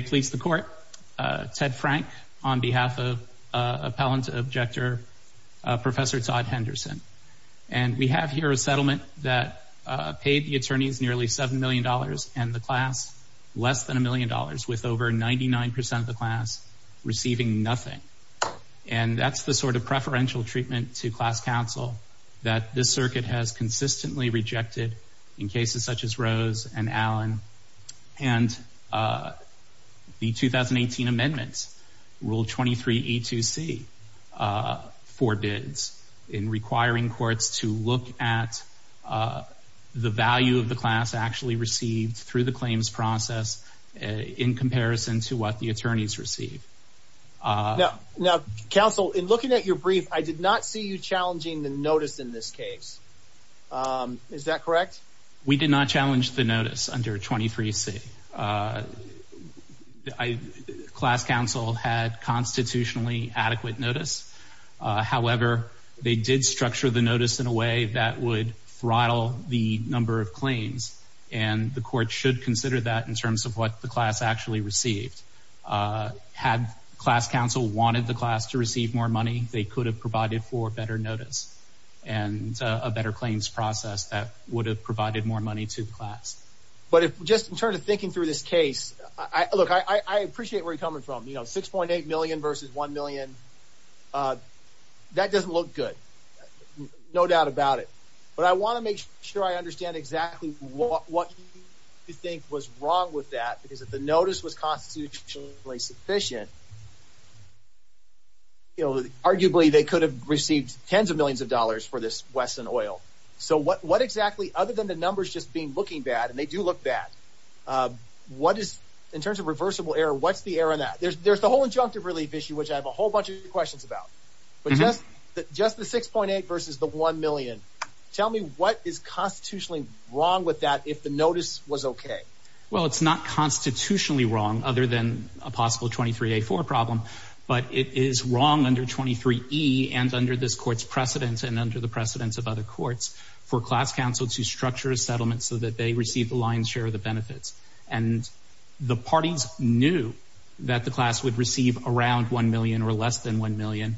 Police, the Court, Ted Frank, on behalf of Appellant Objector Professor Todd Henderson. And we have here a settlement that paid the attorneys nearly seven million dollars and the class less than a million dollars with over 99 percent of the class receiving nothing. And that's the sort of preferential treatment to class counsel that this circuit has consistently rejected in the 2018 amendments. Rule 23E2C forbids in requiring courts to look at the value of the class actually received through the claims process in comparison to what the attorneys receive. Now, counsel, in looking at your brief, I did not see you challenging the notice in this case. Is that correct? We did not challenge the notice under 23C. Class counsel had constitutionally adequate notice. However, they did structure the notice in a way that would throttle the number of claims. And the court should consider that in terms of what the class actually received. Had class counsel wanted the class to receive more money, they could have provided for better notice and a better claims process that would have provided more money to the class. But just in terms of thinking through this case, look, I appreciate where you're coming from. You know, 6.8 million versus one million. That doesn't look good. No doubt about it. But I want to make sure I understand exactly what you think was wrong with that, because if the notice was constitutionally sufficient, arguably they could have received tens of millions of dollars for this Wesson Oil. So what exactly, other than the numbers just being looking bad, and they do look bad, what is, in terms of reversible error, what's the error in that? There's the whole injunctive relief issue, which I have a whole bunch of questions about. But just the 6.8 versus the one million, tell me what is constitutionally wrong with that if the notice was okay? Well, it's not constitutionally wrong, other than a possible 23A4 problem, but it is wrong under 23E and under this court's precedents and under the precedents of other courts for class counsel to structure a settlement so that they receive the lion's share of the benefits. And the parties knew that the class would receive around one million or less than one million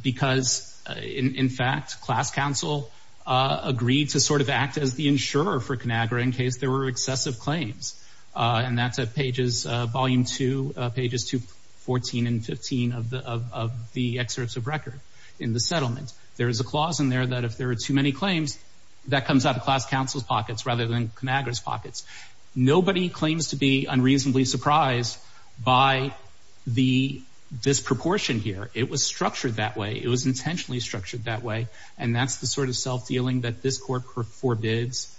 because, in fact, class counsel agreed to sort of act as the insurer for ConAgra in case there were excessive claims. And that's at pages, volume two, pages 214 and 215 of the excerpts of record in the settlement. There is a clause in there that if there are too many claims, that comes out of class counsel's pockets rather than ConAgra's pockets. Nobody claims to be unreasonably surprised by the disproportion here. It was structured that way. It was intentionally structured that way. And that's the sort of self-dealing that this court forbids,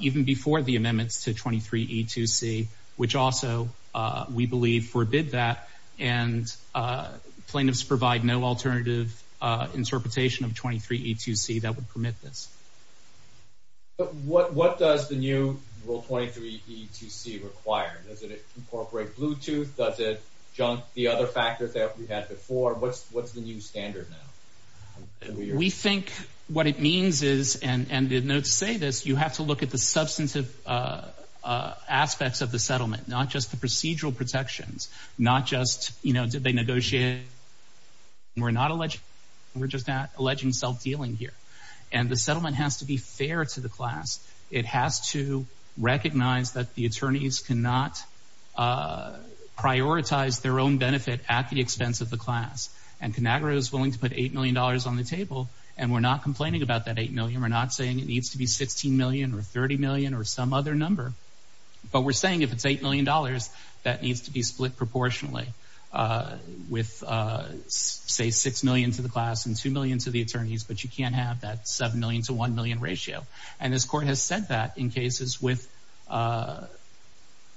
even before the amendments to 23E2C, which also, we believe, forbid that. And plaintiffs provide no alternative interpretation of 23E2C that would permit this. But what does the new Rule 23E2C require? Does it incorporate Bluetooth? Does it junk the other factors that we had before? What's the new standard now? We think what it means is, and to say this, you have to look at the substantive aspects of the settlement, not just the procedural protections, not just, you know, did they negotiate? We're not alleging. We're just alleging self-dealing here. And the settlement has to be fair to the class. It has to recognize that the attorneys cannot prioritize their own benefit at the expense of the class. And ConAgra is willing to put $8 million on the table. And we're not complaining about that $8 million. We're not saying it needs to be $16 million or $30 million or some other number. But we're saying if it's $8 million, that needs to be split proportionally with, say, $6 million to the class and $2 million to the attorneys. But you can't have that $7 million to $1 million ratio. And this court has said that in cases with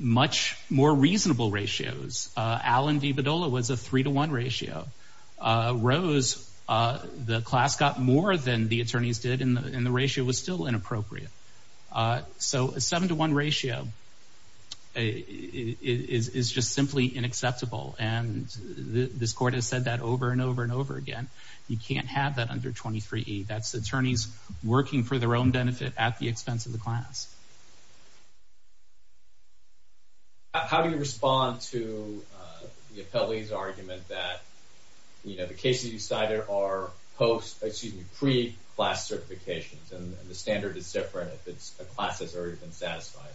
much more reasonable ratios. Allen v. Badola was a 3-to-1 ratio. Rose, the class got more than the attorneys did, and the ratio was still inappropriate. So a 7-to-1 ratio is just simply unacceptable. And this court has said that over and over and over again. You can't have that under 23E. That's attorneys working for their own benefit at the expense of the class. How do you respond to the appellee's argument that, you know, the cases you cited are post, excuse me, pre-class certifications and the standard is different if a class has already been satisfied?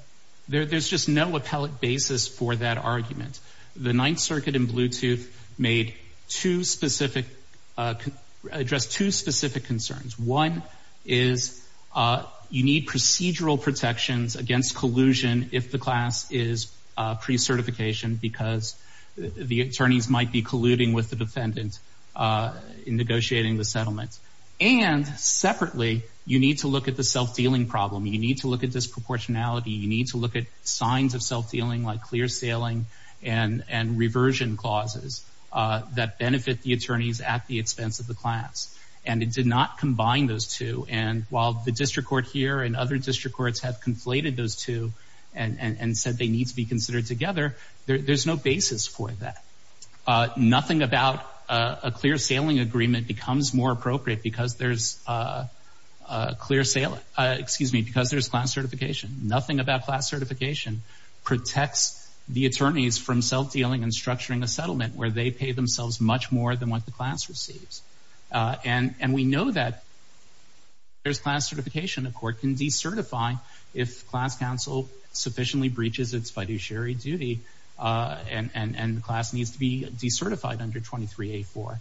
There's just no appellate basis for that argument. The Ninth Circuit and Bluetooth two specific, addressed two specific concerns. One is you need procedural protections against collusion if the class is pre-certification because the attorneys might be colluding with the defendant in negotiating the settlement. And separately, you need to look at the self-dealing problem. You need to look at disproportionality. You need to look at signs of self-dealing like that benefit the attorneys at the expense of the class. And it did not combine those two. And while the district court here and other district courts have conflated those two and said they need to be considered together, there's no basis for that. Nothing about a clear sailing agreement becomes more appropriate because there's clear sailing, excuse me, because there's class certification. Nothing about class certification protects the attorneys from self-dealing and structuring a settlement where they pay themselves much more than what the class receives. And we know that there's class certification. The court can decertify if class counsel sufficiently breaches its fiduciary duty and the class needs to be decertified under 23A4.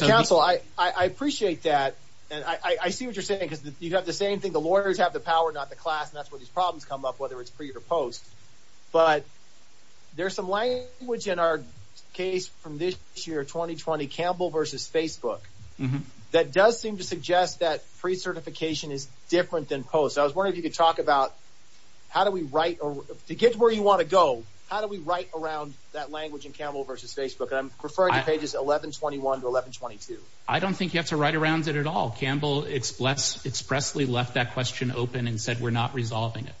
Counsel, I appreciate that. And I see what you're saying because you have the same thing. The lawyers have the power, not the class. And that's where problems come up, whether it's pre or post. But there's some language in our case from this year, 2020 Campbell versus Facebook that does seem to suggest that pre-certification is different than post. I was wondering if you could talk about how do we write to get to where you want to go? How do we write around that language in Campbell versus Facebook? And I'm referring to pages 1121 to 1122. I don't think you have to write around it at all. Campbell expressly left that question open and said we're not resolving it.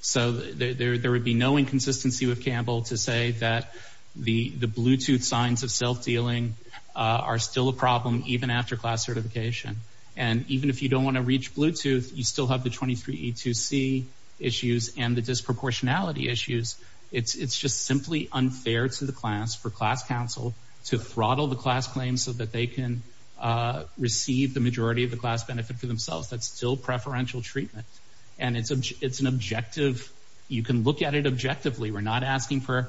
So there would be no inconsistency with Campbell to say that the Bluetooth signs of self-dealing are still a problem even after class certification. And even if you don't want to reach Bluetooth, you still have the 23E2C issues and the disproportionality issues. It's just simply unfair to the class for class counsel to throttle the class claims so that they can receive the majority of the class benefit for themselves. That's still preferential treatment. And it's an objective. You can look at it objectively. We're not asking for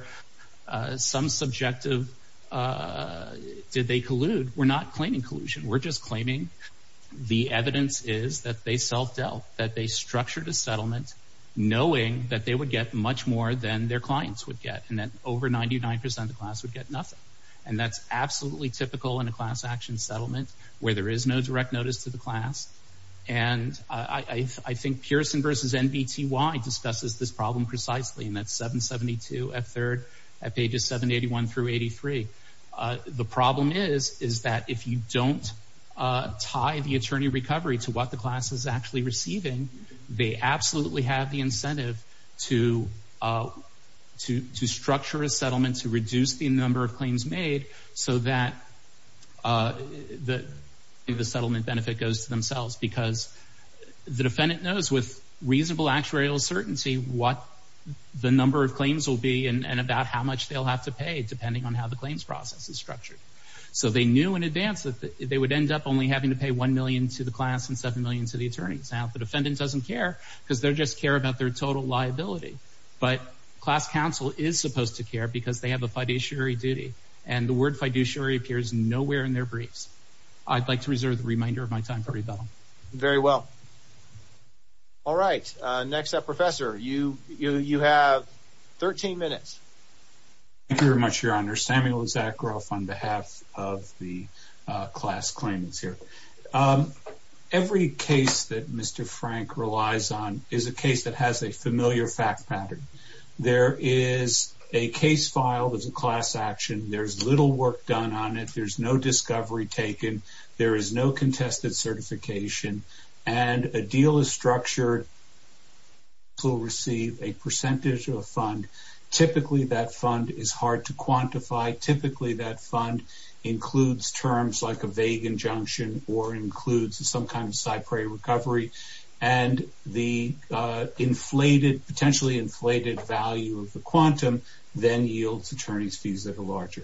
some subjective, did they collude? We're not claiming collusion. We're just claiming the evidence is that they self-dealt, that they structured a settlement knowing that they would get much more than their clients would get. And that over 99% of the class would get nothing. And that's absolutely typical in a class action settlement where there is no direct notice to the I think Pearson versus NBTY discusses this problem precisely. And that's 772 at third, at pages 781 through 83. The problem is that if you don't tie the attorney recovery to what the class is actually receiving, they absolutely have the incentive to structure a settlement, to reduce the number of claims made so that the settlement benefit goes to themselves. Because the defendant knows with reasonable actuarial certainty what the number of claims will be and about how much they'll have to pay depending on how the claims process is structured. So they knew in advance that they would end up only having to pay 1 million to the class and 7 million to the attorneys. Now, the defendant doesn't care because they just care about their total liability. But class counsel is supposed to care because they have a fiduciary duty. And the word fiduciary appears nowhere in their briefs. I'd like to reserve the reminder of my Very well. All right. Next up, Professor, you have 13 minutes. Thank you very much, Your Honor. Samuel Zakaroff on behalf of the class claimants here. Every case that Mr. Frank relies on is a case that has a familiar fact pattern. There is a case filed as a class action. There's little work done on it. There's no discovery taken. There is no contested certification. And a deal is structured to receive a percentage of a fund. Typically, that fund is hard to quantify. Typically, that fund includes terms like a vague injunction or includes some kind of cypher recovery. And the inflated, potentially inflated value of the quantum then yields attorneys fees that are larger.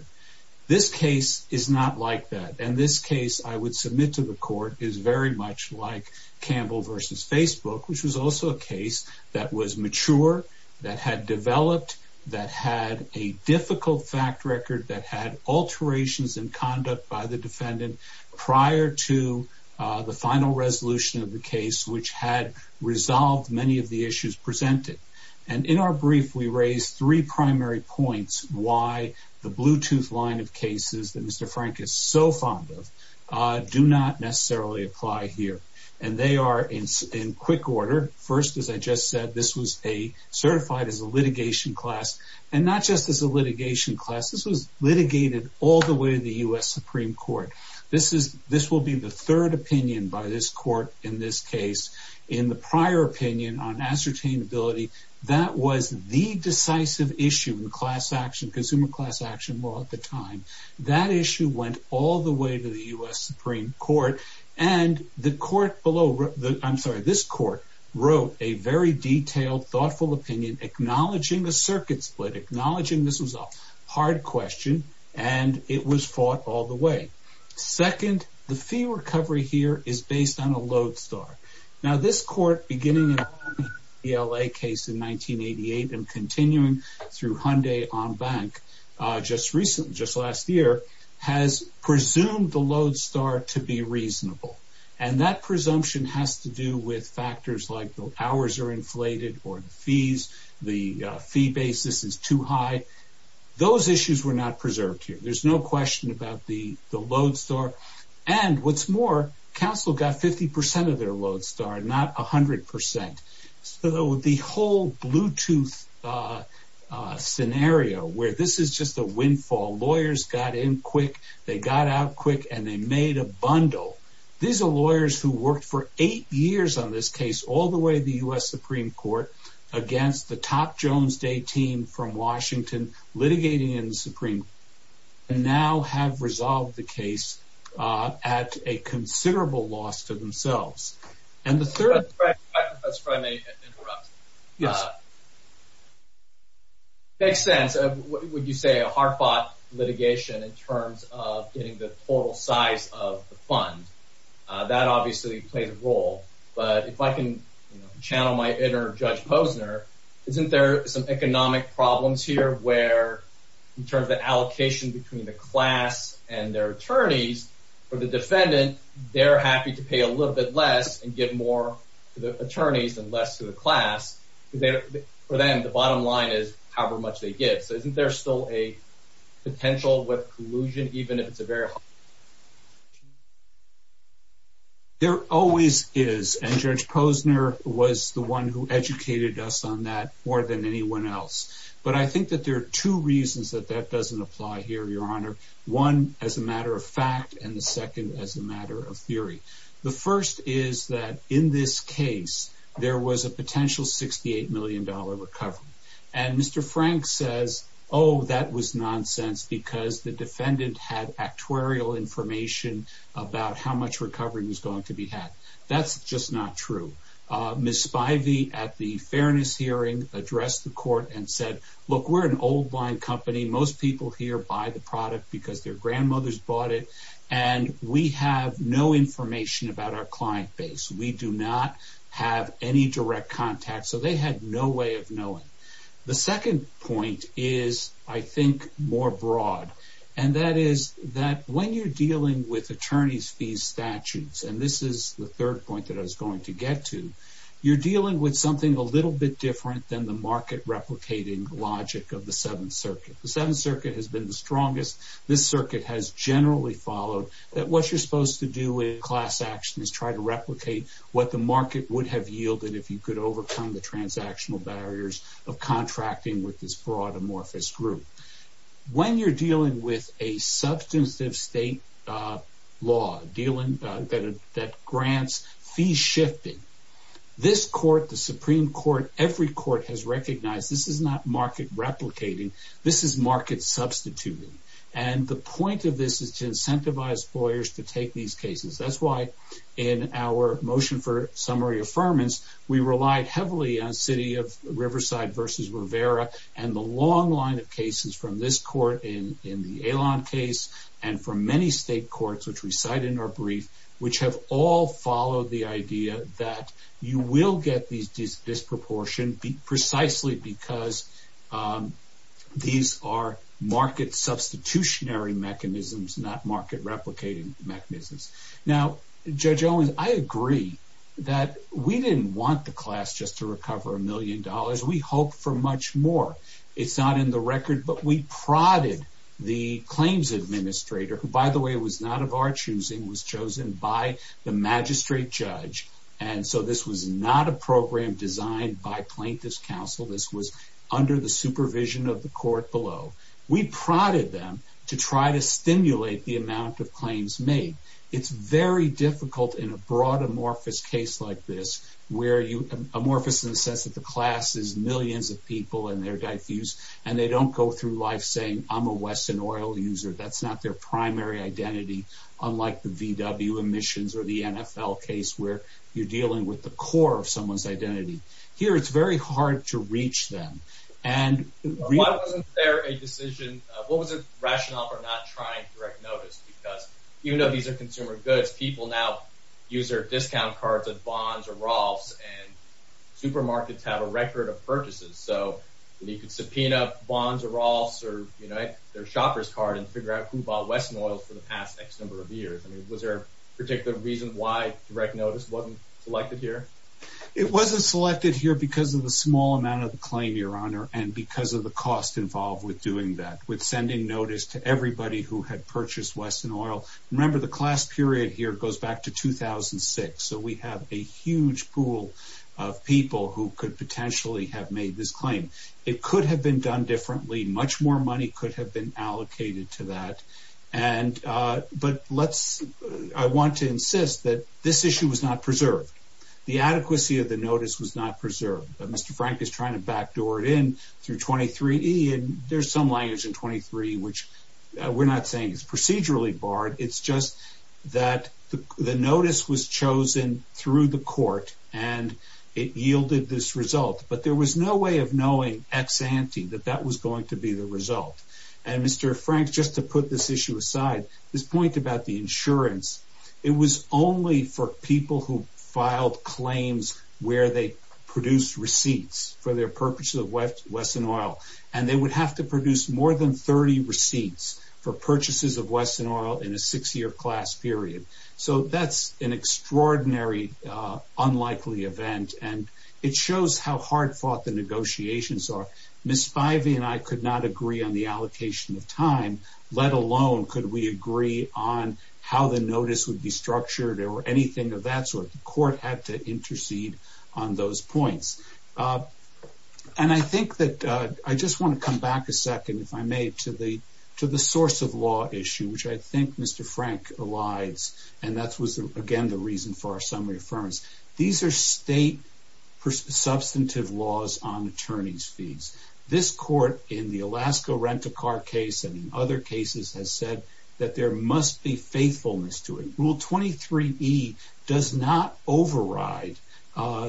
This case is not like that. And this case I would submit to the court is very much like Campbell versus Facebook, which was also a case that was mature, that had developed, that had a difficult fact record, that had alterations in conduct by the defendant prior to the final resolution of the case, which had resolved many of the issues presented. And in our brief, we raised three primary points why the Bluetooth line of cases that Mr. Frank is so fond of do not necessarily apply here. And they are in quick order. First, as I just said, this was certified as a litigation class. And not just as a litigation class, this was litigated all the way to the U.S. Supreme Court. This will be the third opinion by this court in this case. In the prior opinion on ascertainability, that was the decisive issue in class action, consumer class action law at the time. That issue went all the way to the U.S. Supreme Court. And the court below, I'm sorry, this court wrote a very detailed, thoughtful opinion, acknowledging the circuit split, acknowledging this was a hard question, and it was fought all the way. Second, the fee recovery here is based on a Lodestar. Now, this court, beginning in the L.A. case in 1988 and continuing through Hyundai on bank just recently, just last year, has presumed the Lodestar to be reasonable. And that presumption has to do with factors like the hours are inflated or the fees, the fee basis is too high. Those issues were not preserved here. There's no question about the Lodestar. And what's more, counsel got 50 percent of their Lodestar, not 100 percent. So the whole Bluetooth scenario, where this is just a windfall, lawyers got in quick, they got out quick, and they made a bundle. These are lawyers who worked for eight years on this case, all the way to the U.S. Supreme Court, against the top Jones Day team from Washington, litigating in the themselves. And the third... If I may interrupt. Yes. It makes sense. Would you say a hard-fought litigation in terms of getting the total size of the fund, that obviously plays a role. But if I can channel my inner Judge Posner, isn't there some economic problems here where, in terms of the allocation between the class and their attorneys, for the defendant, they're happy to pay a little bit less and give more to the attorneys and less to the class. For them, the bottom line is however much they get. So isn't there still a potential with collusion, even if it's a very... There always is. And Judge Posner was the one who educated us on that more than anyone else. But I think that there are two reasons that that doesn't apply here, Your Honor. One, as a matter of fact, and the second as a matter of theory. The first is that in this case, there was a potential $68 million recovery. And Mr. Frank says, oh, that was nonsense because the defendant had actuarial information about how much recovery was going to be had. That's just not true. Ms. Spivey, at the fairness hearing, addressed the court and said, look, we're an old line company. Most people here buy the product because their grandmothers bought it. And we have no information about our client base. We do not have any direct contact. So they had no way of knowing. The second point is, I think, more broad. And that is that when you're dealing with attorney's fees statutes, and this is the third point that I was going to get to, you're dealing with something a little bit different than the market replicating logic of the Seventh Circuit. The Seventh Circuit has been the strongest. This circuit has generally followed that what you're supposed to do with class action is try to replicate what the market would have yielded if you could overcome the transactional barriers of contracting with this broad amorphous group. When you're dealing with a substantive state law dealing that grants fee shifting, this court, the Supreme Court, every court has recognized this is not market replicating. This is market substituting. And the point of this is to incentivize lawyers to take these cases. That's why in our motion for summary affirmance, we relied heavily on city of Riverside versus Rivera and the long line of cases from this court in the Alon case, and from many state courts, which we cite in our brief, which have all followed the idea that you will get this disproportion precisely because these are market substitutionary mechanisms, not market replicating mechanisms. Now, Judge Owens, I agree that we didn't want the class just to recover a million dollars. We hope for much more. It's not in the record, but we prodded the claims administrator, who, by the way, was not of our choosing, was chosen by the magistrate judge. And so this was not a program designed by plaintiff's counsel. This was under the supervision of the court below. We prodded them to try to stimulate the amount of claims made. It's very difficult in a broad amorphous case like this, where amorphous in the sense that the class is millions of people and they're diffused, and they don't go through life saying, I'm a Western oil user. That's not their primary identity. Unlike the VW emissions or the NFL case, where you're dealing with the core of someone's identity. Here, it's very hard to reach them. And why wasn't there a decision? What was the rationale for not trying direct notice? Because you know, these are consumer goods. People now use their discount cards and bonds or rolls and supermarkets have a record of purchases. So you could subpoena bonds or rolls or, you know, their shopper's card and figure out who bought Western oil for the past X number of years. I mean, was there a particular reason why direct notice wasn't selected here? It wasn't selected here because of the small amount of the claim, Your Honor, and because of the cost involved with doing that, with sending notice to everybody who had purchased Western oil. Remember, the class period here goes back to 2006. So we have a huge pool of people who could potentially have made this claim. It could have been done differently. Much more money could have been allocated to that. But I want to insist that this issue was not preserved. The adequacy of the notice was not preserved. Mr. Frank is trying to backdoor it in through 23E, and there's some it's just that the notice was chosen through the court and it yielded this result. But there was no way of knowing ex ante that that was going to be the result. And Mr. Frank, just to put this issue aside, this point about the insurance, it was only for people who filed claims where they produced receipts for their purposes of Western oil. And they would have to produce more than 30 receipts for purchases of Western oil in a six-year class period. So that's an extraordinary, unlikely event. And it shows how hard-fought the negotiations are. Ms. Spivey and I could not agree on the allocation of time, let alone could we agree on how the notice would be structured or anything of that sort. The court had to intercede on those points. And I think that I just want to come back a second, if I may, to the source of law issue, which I think Mr. Frank elides. And that was, again, the reason for our summary affirmance. These are state substantive laws on attorney's fees. This court in the Alaska rent-a-car case and in other cases has said that there must be faithfulness to it. Rule 23E does not override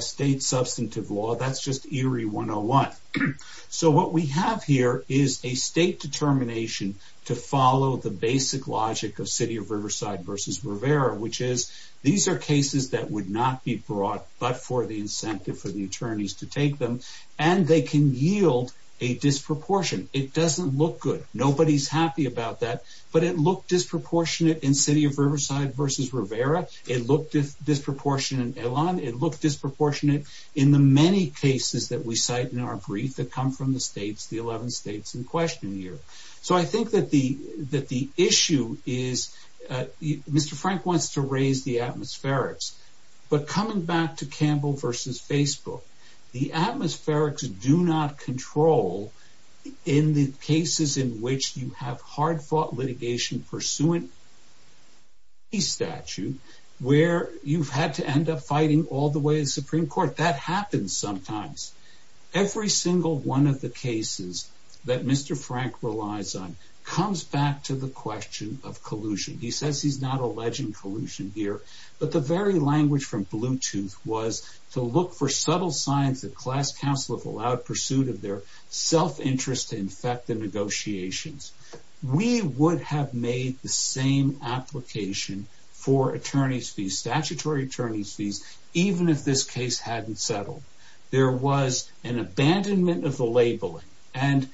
state substantive law. That's just ERIE 101. So what we have here is a state determination to follow the basic logic of City of Riverside v. Rivera, which is these are cases that would not be brought but for the incentive for the attorneys to take them. And they can yield a disproportion. It doesn't look good. Nobody's happy about that. But it looked disproportionate in City of Riverside v. Rivera. It looked disproportionate in Elan. It looked disproportionate in the many cases that we cite in our brief that come from the states, the 11 states in question here. So I think that the issue is, Mr. Frank wants to raise the atmospherics. But coming back to Campbell v. Facebook, the atmospherics do not control in the cases in which you have hard-fought litigation pursuant to the statute where you've had to end up fighting all the way to the Supreme Court. That happens sometimes. Every single one of the cases that Mr. Frank relies on comes back to the question of collusion. He says he's not alleging collusion here. But the very language from Bluetooth was to look for subtle signs that class counsel have allowed pursuit of their self-interest to infect the negotiations. We would have made the same application for attorney's fees, statutory attorney's fees, even if this case hadn't settled. There was an abandonment of the labeling. And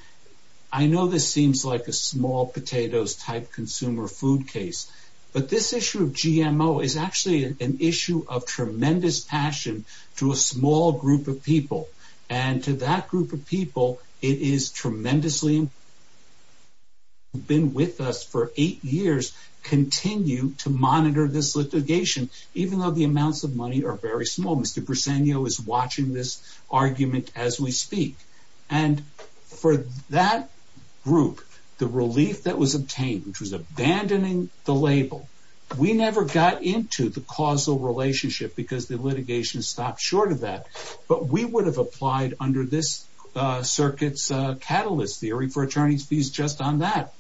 I know this seems like a small potatoes type consumer food case. But this issue of GMO is actually an issue of tremendous passion to a small group of people. And to that group of people, it is tremendously important that those who have been with us for eight years continue to monitor this litigation, even though the amounts of money are very small. Mr. Briseno is watching this argument as we speak. And for that group, the relief that was obtained, which was abandoning the label, we never got into the causal relationship because the litigation stopped short of that. But we would have applied under this circuit's catalyst theory for attorney's fees just on that.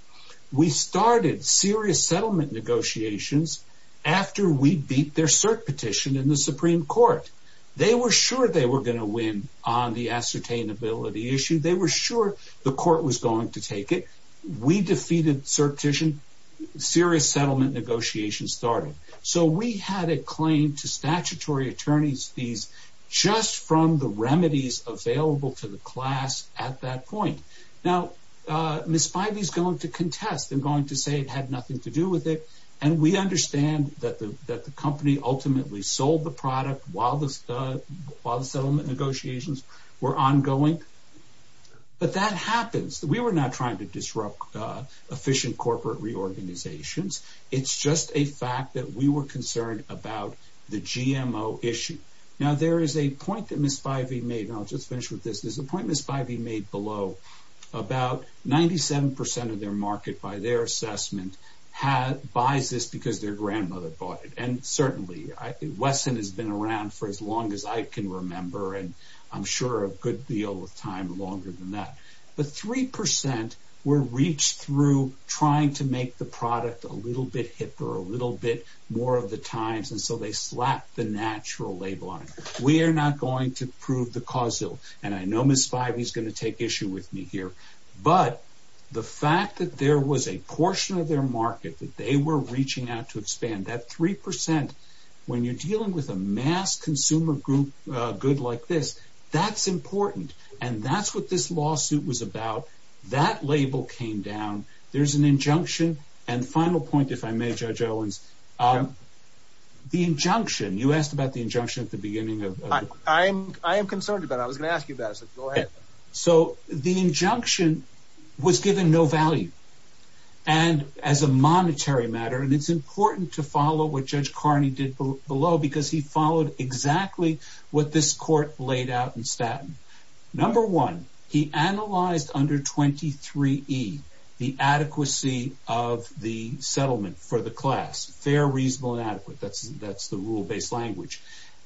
We started serious settlement negotiations after we beat their cert petition in the Supreme Court. They were sure they were going to win on the ascertainability issue. They were sure the court was going to take it. We defeated certition. Serious settlement negotiations started. So we had a claim to statutory attorney's fees just from the remedies available to the class at that point. Now, Ms. Spivey is going to contest and going to say it had nothing to do with it. And we understand that the company ultimately sold the product while the settlement negotiations were ongoing. But that happens. We were not trying to disrupt efficient corporate reorganizations. It's just a fact that we were concerned about the GMO issue. Now, there is a point that Ms. Spivey made, and I'll just finish with this. There's a point Ms. Spivey made below about 97% of their market by their assessment buys this because their grandmother bought it. And certainly, Wesson has been around for as long as I can remember, and I'm sure a good deal of time longer than that. But 3% were reached through trying to make the product a little bit hipper, a little bit more of the times. And so they slapped the natural label on it. We are not going to prove the causal. And I know Ms. Spivey is going to take issue with me here. But the fact that there was a portion of their market that they were reaching out to expand that 3% when you're dealing with a mass consumer group good like this, that's important. And that's what this lawsuit was about. That label came down. There's an injunction. And final point, if I may, Judge Owens, the injunction, you asked about the injunction at the beginning of I am concerned about I was gonna ask you that. So the injunction was given no value. And as a monetary matter, and it's important to follow what Judge Carney did below because he analyzed under 23 E the adequacy of the settlement for the class, fair, reasonable, and adequate. That's the rule based language.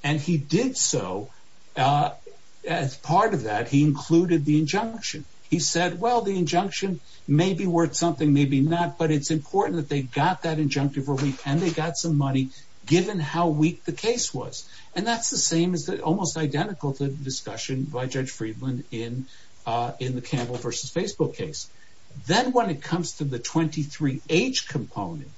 And he did so as part of that, he included the injunction. He said, well, the injunction may be worth something, maybe not, but it's important that they got that injunctive relief and they got some money given how weak the case was. And that's the same as almost identical to the discussion by Judge Friedland in in the Campbell versus Facebook case. Then when it comes to the 23 H component,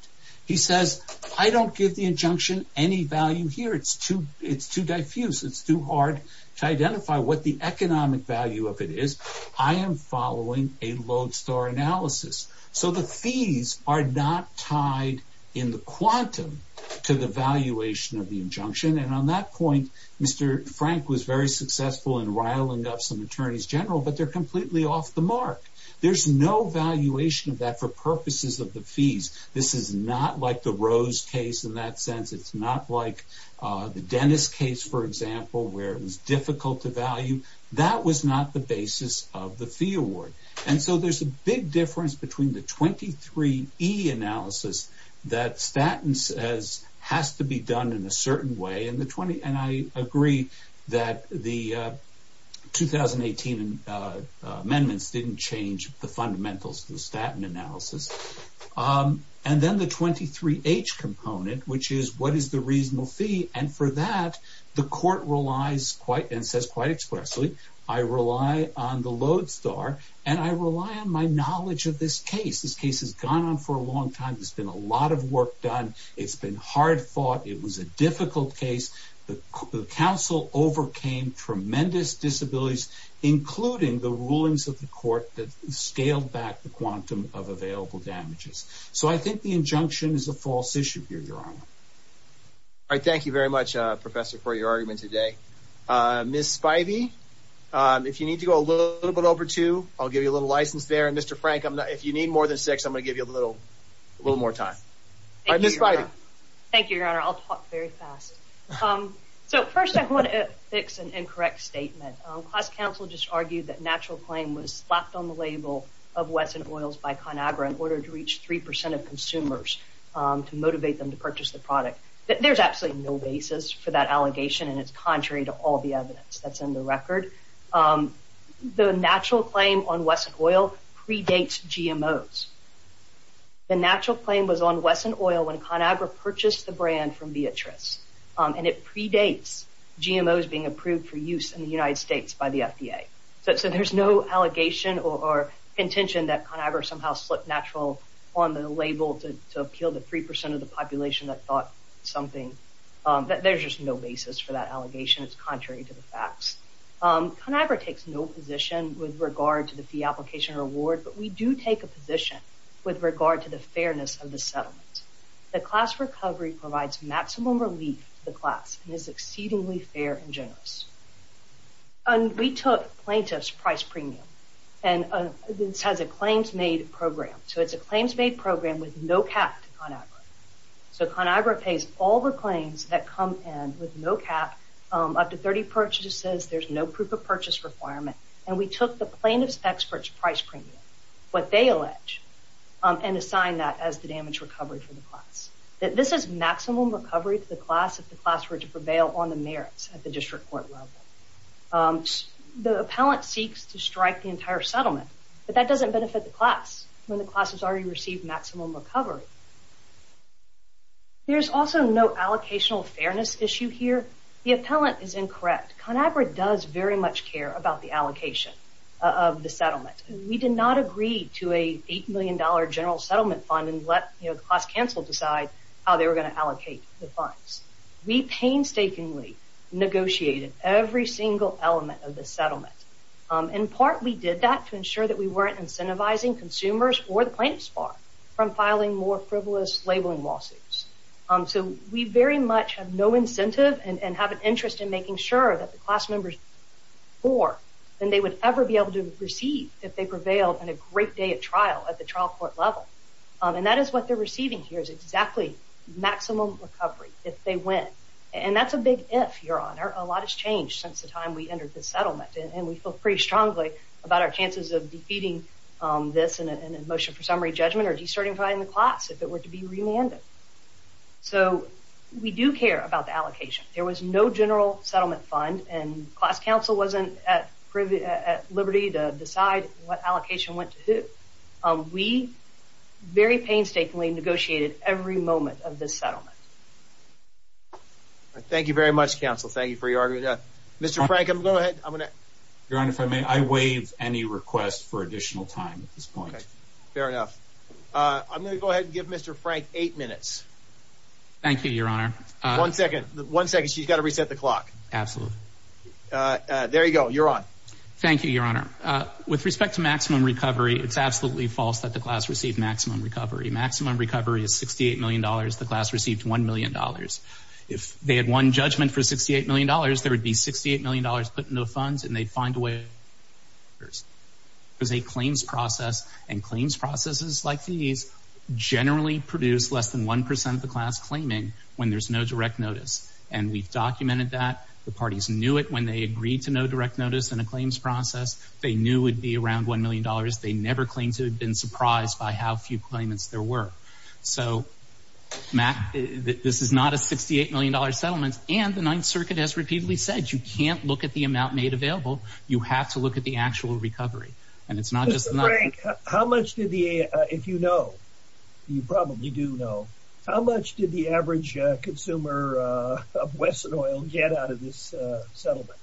he says, I don't give the injunction any value here. It's too, it's too diffuse. It's too hard to identify what the economic value of it is. I am following a lodestar analysis. So the fees are not tied in the quantum to the valuation of the injunction. And on that point, Mr. Frank was very successful in riling up some attorneys general, but they're completely off the mark. There's no valuation of that for purposes of the fees. This is not like the Rose case in that sense. It's not like the Dennis case, for example, where it was difficult to value. That was not the basis of the fee award. And so there's a big difference between the 23 E analysis that statins has to be done in a certain way. And the 20 and I agree that the 2018 amendments didn't change the fundamentals of the statin analysis. And then the 23 H component, which is what is the reasonable fee. And for that, the court relies quite and says quite expressly, I rely on the lodestar and I rely on my knowledge of this case. This case has gone on for a long time. There's been a lot of work done. It's been hard fought. It was a difficult case. The council overcame tremendous disabilities, including the rulings of the court that scaled back the quantum of available damages. So I think the injunction is a false issue here, Your Honor. All right. Thank you very much, Professor, for your argument today. Miss Spivey, if you need to go a little bit over to I'll give you a little license there. And Mr. Frank, if you need more than six, I'm gonna give you a little, a little more time. All right, Miss Spivey. Thank you, Your Honor. I'll talk very fast. So first I want to fix an incorrect statement. Class counsel just argued that natural claim was slapped on the label of 3% of consumers to motivate them to purchase the product. There's absolutely no basis for that allegation. And it's contrary to all the evidence that's in the record. The natural claim on Wesson oil predates GMOs. The natural claim was on Wesson oil when ConAgra purchased the brand from Beatrice. And it predates GMOs being approved for use in the United States by the FDA. So there's no allegation or intention that ConAgra somehow slipped natural on the label to appeal to 3% of the population that thought something. There's just no basis for that allegation. It's contrary to the facts. ConAgra takes no position with regard to the fee application reward, but we do take a position with regard to the fairness of the settlement. The class recovery provides maximum relief to the class and is exceedingly fair and generous. And we took plaintiff's price premium. And this has a claims-made program. So it's a claims-made program with no cap to ConAgra. So ConAgra pays all the claims that come in with no cap, up to 30 purchases. There's no proof of purchase requirement. And we took the plaintiff's expert's price premium, what they allege, and assign that as the damage recovery for the class. This is maximum recovery to the class if the class were to prevail on the merits at the district court level. The appellant seeks to strike the entire settlement, but that doesn't benefit the class when the class has already received maximum recovery. There's also no allocational fairness issue here. The appellant is incorrect. ConAgra does very much care about the allocation of the settlement. We did not agree to a $8 million general settlement fund and let, you know, allocate the funds. We painstakingly negotiated every single element of the settlement. In part, we did that to ensure that we weren't incentivizing consumers or the plaintiff's bar from filing more frivolous labeling lawsuits. So we very much have no incentive and have an interest in making sure that the class members pay more than they would ever be able to receive if they prevailed on a great day of trial at the trial court level. And that is what they're if they win. And that's a big if, Your Honor. A lot has changed since the time we entered this settlement and we feel pretty strongly about our chances of defeating this in a motion for summary judgment or de-certifying the class if it were to be remanded. So we do care about the allocation. There was no general settlement fund and class counsel wasn't at liberty to decide what allocation went to who. We very painstakingly negotiated every moment of this settlement. Thank you very much, counsel. Thank you for your argument. Mr. Frank, I'm going to go ahead. Your Honor, if I may, I waive any request for additional time at this point. Fair enough. I'm going to go ahead and give Mr. Frank eight minutes. Thank you, Your Honor. One second. One second. She's got to reset the clock. Absolutely. There you go. You're on. Thank you, Your Honor. With respect to maximum recovery, it's absolutely false that the class received maximum recovery. Maximum recovery is $68 million. The class received $1 million. If they had won judgment for $68 million, there would be $68 million put into funds and they'd find a way. There's a claims process and claims processes like these generally produce less than 1% of the class claiming when there's no direct notice. And we've documented that. The parties knew it when they agreed to no direct notice in a claims process. They knew it'd be around $1 million. They never claimed to have been surprised by how few claimants there were. So, Matt, this is not a $68 million settlement. And the Ninth Circuit has repeatedly said you can't look at the amount made available. You have to look at the actual recovery. And it's not just... Mr. Frank, how much did the, if you know, you probably do know, how much did the average consumer of Wesson Oil get out of this settlement?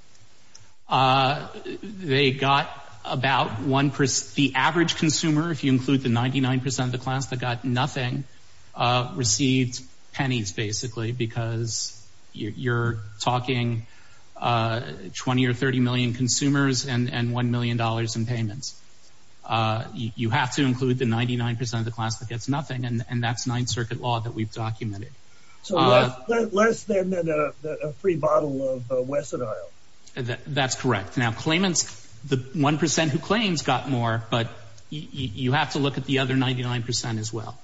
They got about 1%. The average consumer, if you include the 99% of the class that got nothing, received pennies, basically, because you're talking 20 or 30 million consumers and $1 million in payments. You have to include the 99% of the class that gets nothing. And that's Ninth Circuit law that we've documented. So less than a free bottle of Wesson Oil. That's correct. Now, claimants, the 1% who claims got more, but you have to look at the other 99% as well.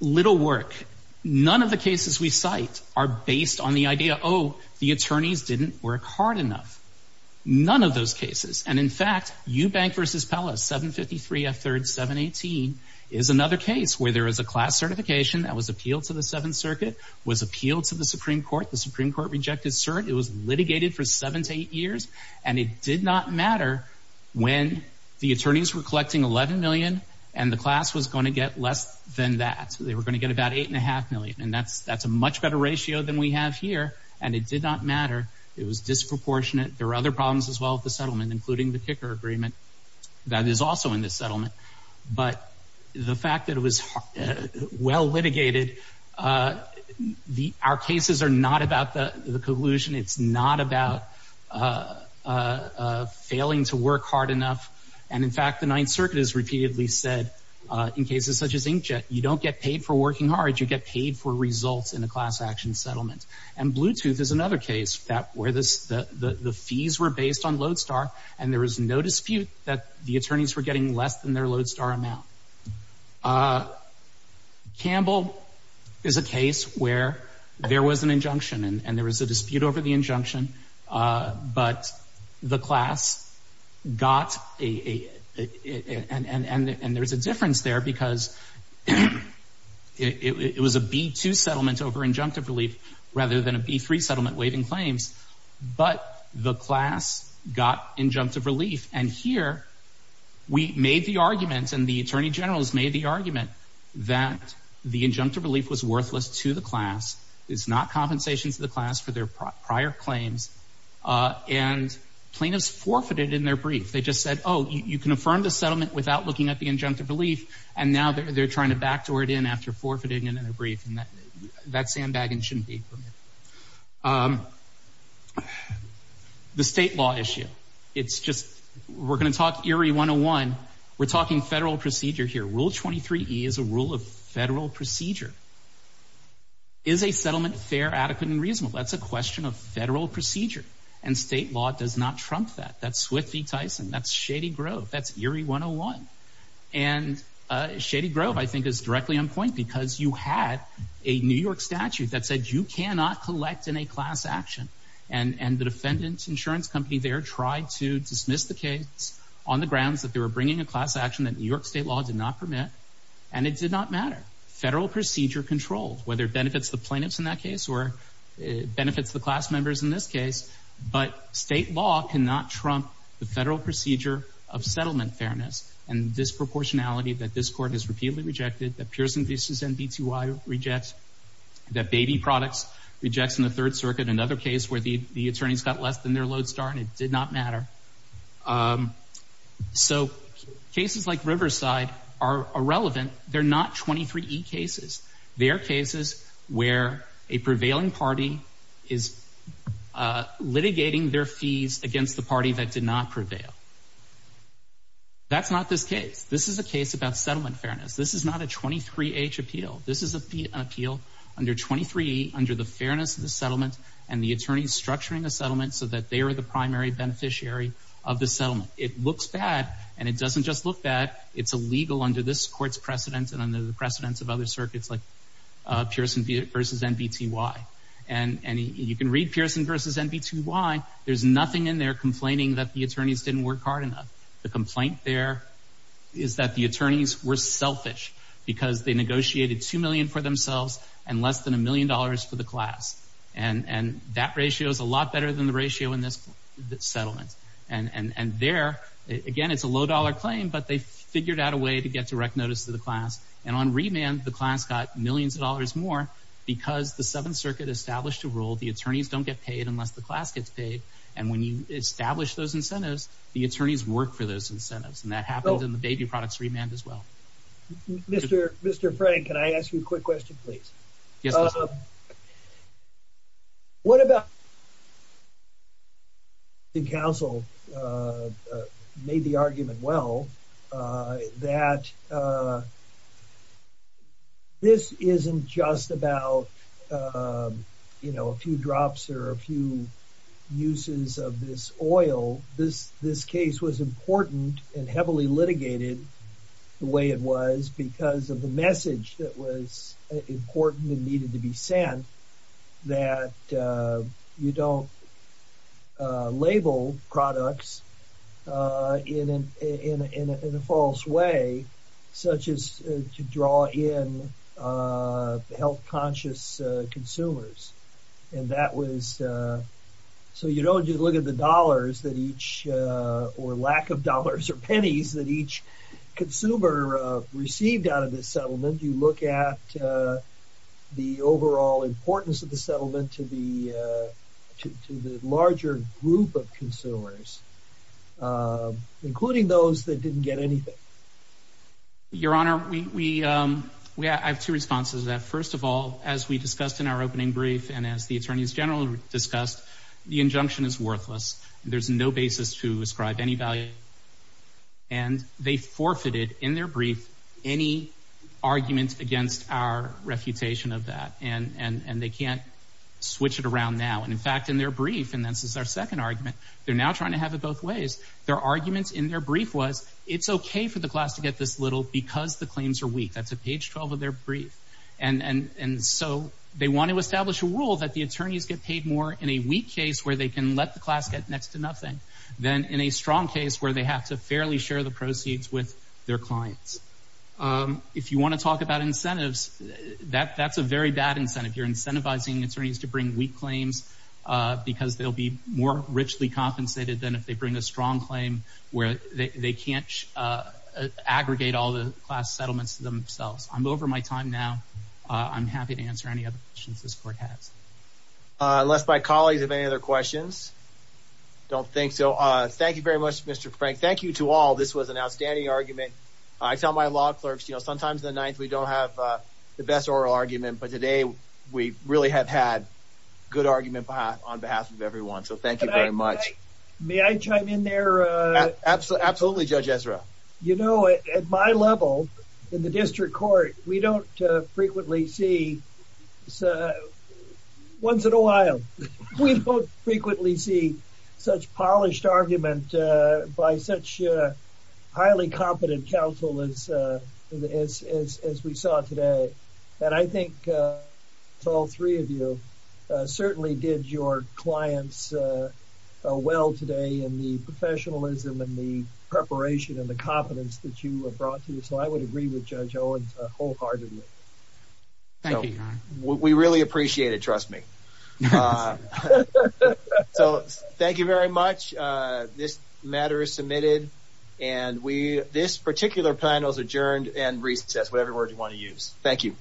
Little work. None of the cases we cite are based on the idea, oh, the attorneys didn't work hard enough. None of those cases. And in fact, Eubank v. Pella, 753 F3rd 718 is another case where there is a class certification that was appealed to the Seventh Circuit, was appealed to the Supreme Court. The Supreme Court rejected cert. It was litigated for seven to eight years. And it did not matter when the attorneys were collecting 11 million and the class was going to get less than that. They were going to get about 8.5 million. And that's a much better ratio than we have here. And it did not matter. It was disproportionate. There were other problems as well at the settlement, including the kicker agreement that is also in this settlement. But the fact that it was well litigated, our cases are not about the collusion. It's not about failing to work hard enough. And in fact, the Ninth Circuit has repeatedly said, in cases such as inkjet, you don't get paid for working hard. You get paid for results in class action settlement. And Bluetooth is another case where the fees were based on Lodestar and there was no dispute that the attorneys were getting less than their Lodestar amount. Campbell is a case where there was an injunction and there was a dispute over the injunction, but the class got a, and there's a difference there because it was a B2 settlement over injunctive relief rather than a B3 settlement waiving claims. But the class got injunctive relief. And here we made the argument and the attorney generals made the argument that the injunctive relief was worthless to the class. It's not compensation to the class for their prior claims. And plaintiffs forfeited in their brief. They just said, oh, you can affirm the settlement without looking at the injunctive relief. And now they're trying to backdoor it in after forfeiting it in a brief. And that sandbagging shouldn't be permitted. The state law issue. It's just, we're going to talk ERIE 101. We're talking federal procedure here. Rule 23E is a rule of federal procedure. Is a settlement fair, adequate, and reasonable? That's a question of federal procedure. And state law does not trump that. That's Swift v. Tyson. That's Shady Grove. That's ERIE 101. And Shady Grove, I think, is directly on point because you had a New York statute that said you cannot collect in a class action. And the defendant's insurance company there tried to dismiss the case on the grounds that they were bringing a class action that New York state law did not permit. And it did not matter. Federal procedure controlled, whether it benefits the plaintiffs in that case or benefits the class members in this case. But state law cannot trump the federal procedure of settlement fairness and disproportionality that this court has repeatedly rejected, that Pearson v. NBTY rejects, that Baby Products rejects in the Third Circuit. Another case where the attorneys got less than their load star and it did not matter. So cases like Riverside are irrelevant. They're not 23E cases. They're cases where a prevailing party is litigating their fees against the party that did not prevail. That's not this case. This is a case about settlement fairness. This is not a 23H appeal. This is an appeal under 23E under the fairness of the settlement and the attorneys structuring a settlement so that they are the primary beneficiary of the settlement. It looks bad and it doesn't just look bad. It's illegal under this court's precedents and under the precedents of other circuits like Pearson v. NBTY. And you can read Pearson v. NBTY. There's nothing in there complaining that the attorneys didn't work hard enough. The complaint there is that the attorneys were selfish because they negotiated $2 million for themselves and less than a million dollars for the class. And that ratio is a lot better than the ratio in this settlement. And there, again, it's a low-dollar claim, but they figured out a way to get direct notice to the class. And on remand, the class got millions of dollars more because the Seventh Circuit established a rule the attorneys don't get paid unless the class gets paid. And when you establish those incentives, the attorneys work for those incentives. And that happens in the baby products remand as well. Mr. Frank, can I ask you a quick question, please? Yes. What about... the counsel made the argument well that this isn't just about, you know, a few drops or a few uses of this oil. This case was important and heavily litigated the way it was because of the message that was important and needed to be sent that you don't label products in a false way, such as to draw in health-conscious consumers. And that was... so you don't just look at the dollars that each or lack of dollars or pennies that each consumer received out of this settlement. You look at the overall importance of the settlement to the larger group of consumers, including those that didn't get anything. Your Honor, I have two responses to that. First of all, as we discussed in our opening brief and as the attorneys general discussed, the injunction is worthless. There's no basis to ascribe any value. And they forfeited in their brief any argument against our refutation of that. And they can't switch it around now. And in fact, in their brief, and this is our second argument, they're now trying to have it both ways. Their arguments in their brief was, it's okay for the class to get this little because the claims are weak. That's at page 12 of their brief. And so they want to establish a rule that the attorneys get paid more in a weak case where they can let the class get next to nothing than in a strong case where they have to fairly share the proceeds with their clients. If you want to talk about incentives, that's a very bad incentive. You're incentivizing attorneys to bring weak claims because they'll be more richly compensated than if they bring a strong claim where they can't aggregate all the class settlements themselves. I'm over my time now. I'm happy to answer any other questions this court has. Unless my colleagues have any other questions? Don't think so. Thank you very much, Mr. Frank. Thank you to all. This was an outstanding argument. I tell my law clerks, you know, sometimes the ninth, we don't have the best oral argument, but today we really have had good argument on behalf of everyone. So thank you very much. May I chime in there? Absolutely. Absolutely. Judge Ezra. You know, at my level in the district court, we don't frequently see once in a while, we don't frequently see such polished argument by such a highly competent counsel as we saw today. And I think to all three of you certainly did your clients well today in the professionalism and the preparation and the confidence that you have brought to you. So I would agree with Judge Owens wholeheartedly. Thank you. We really appreciate it. Trust me. So thank you very much. This matter is submitted and we, this particular panel is adjourned and that's whatever word you want to use. Thank you.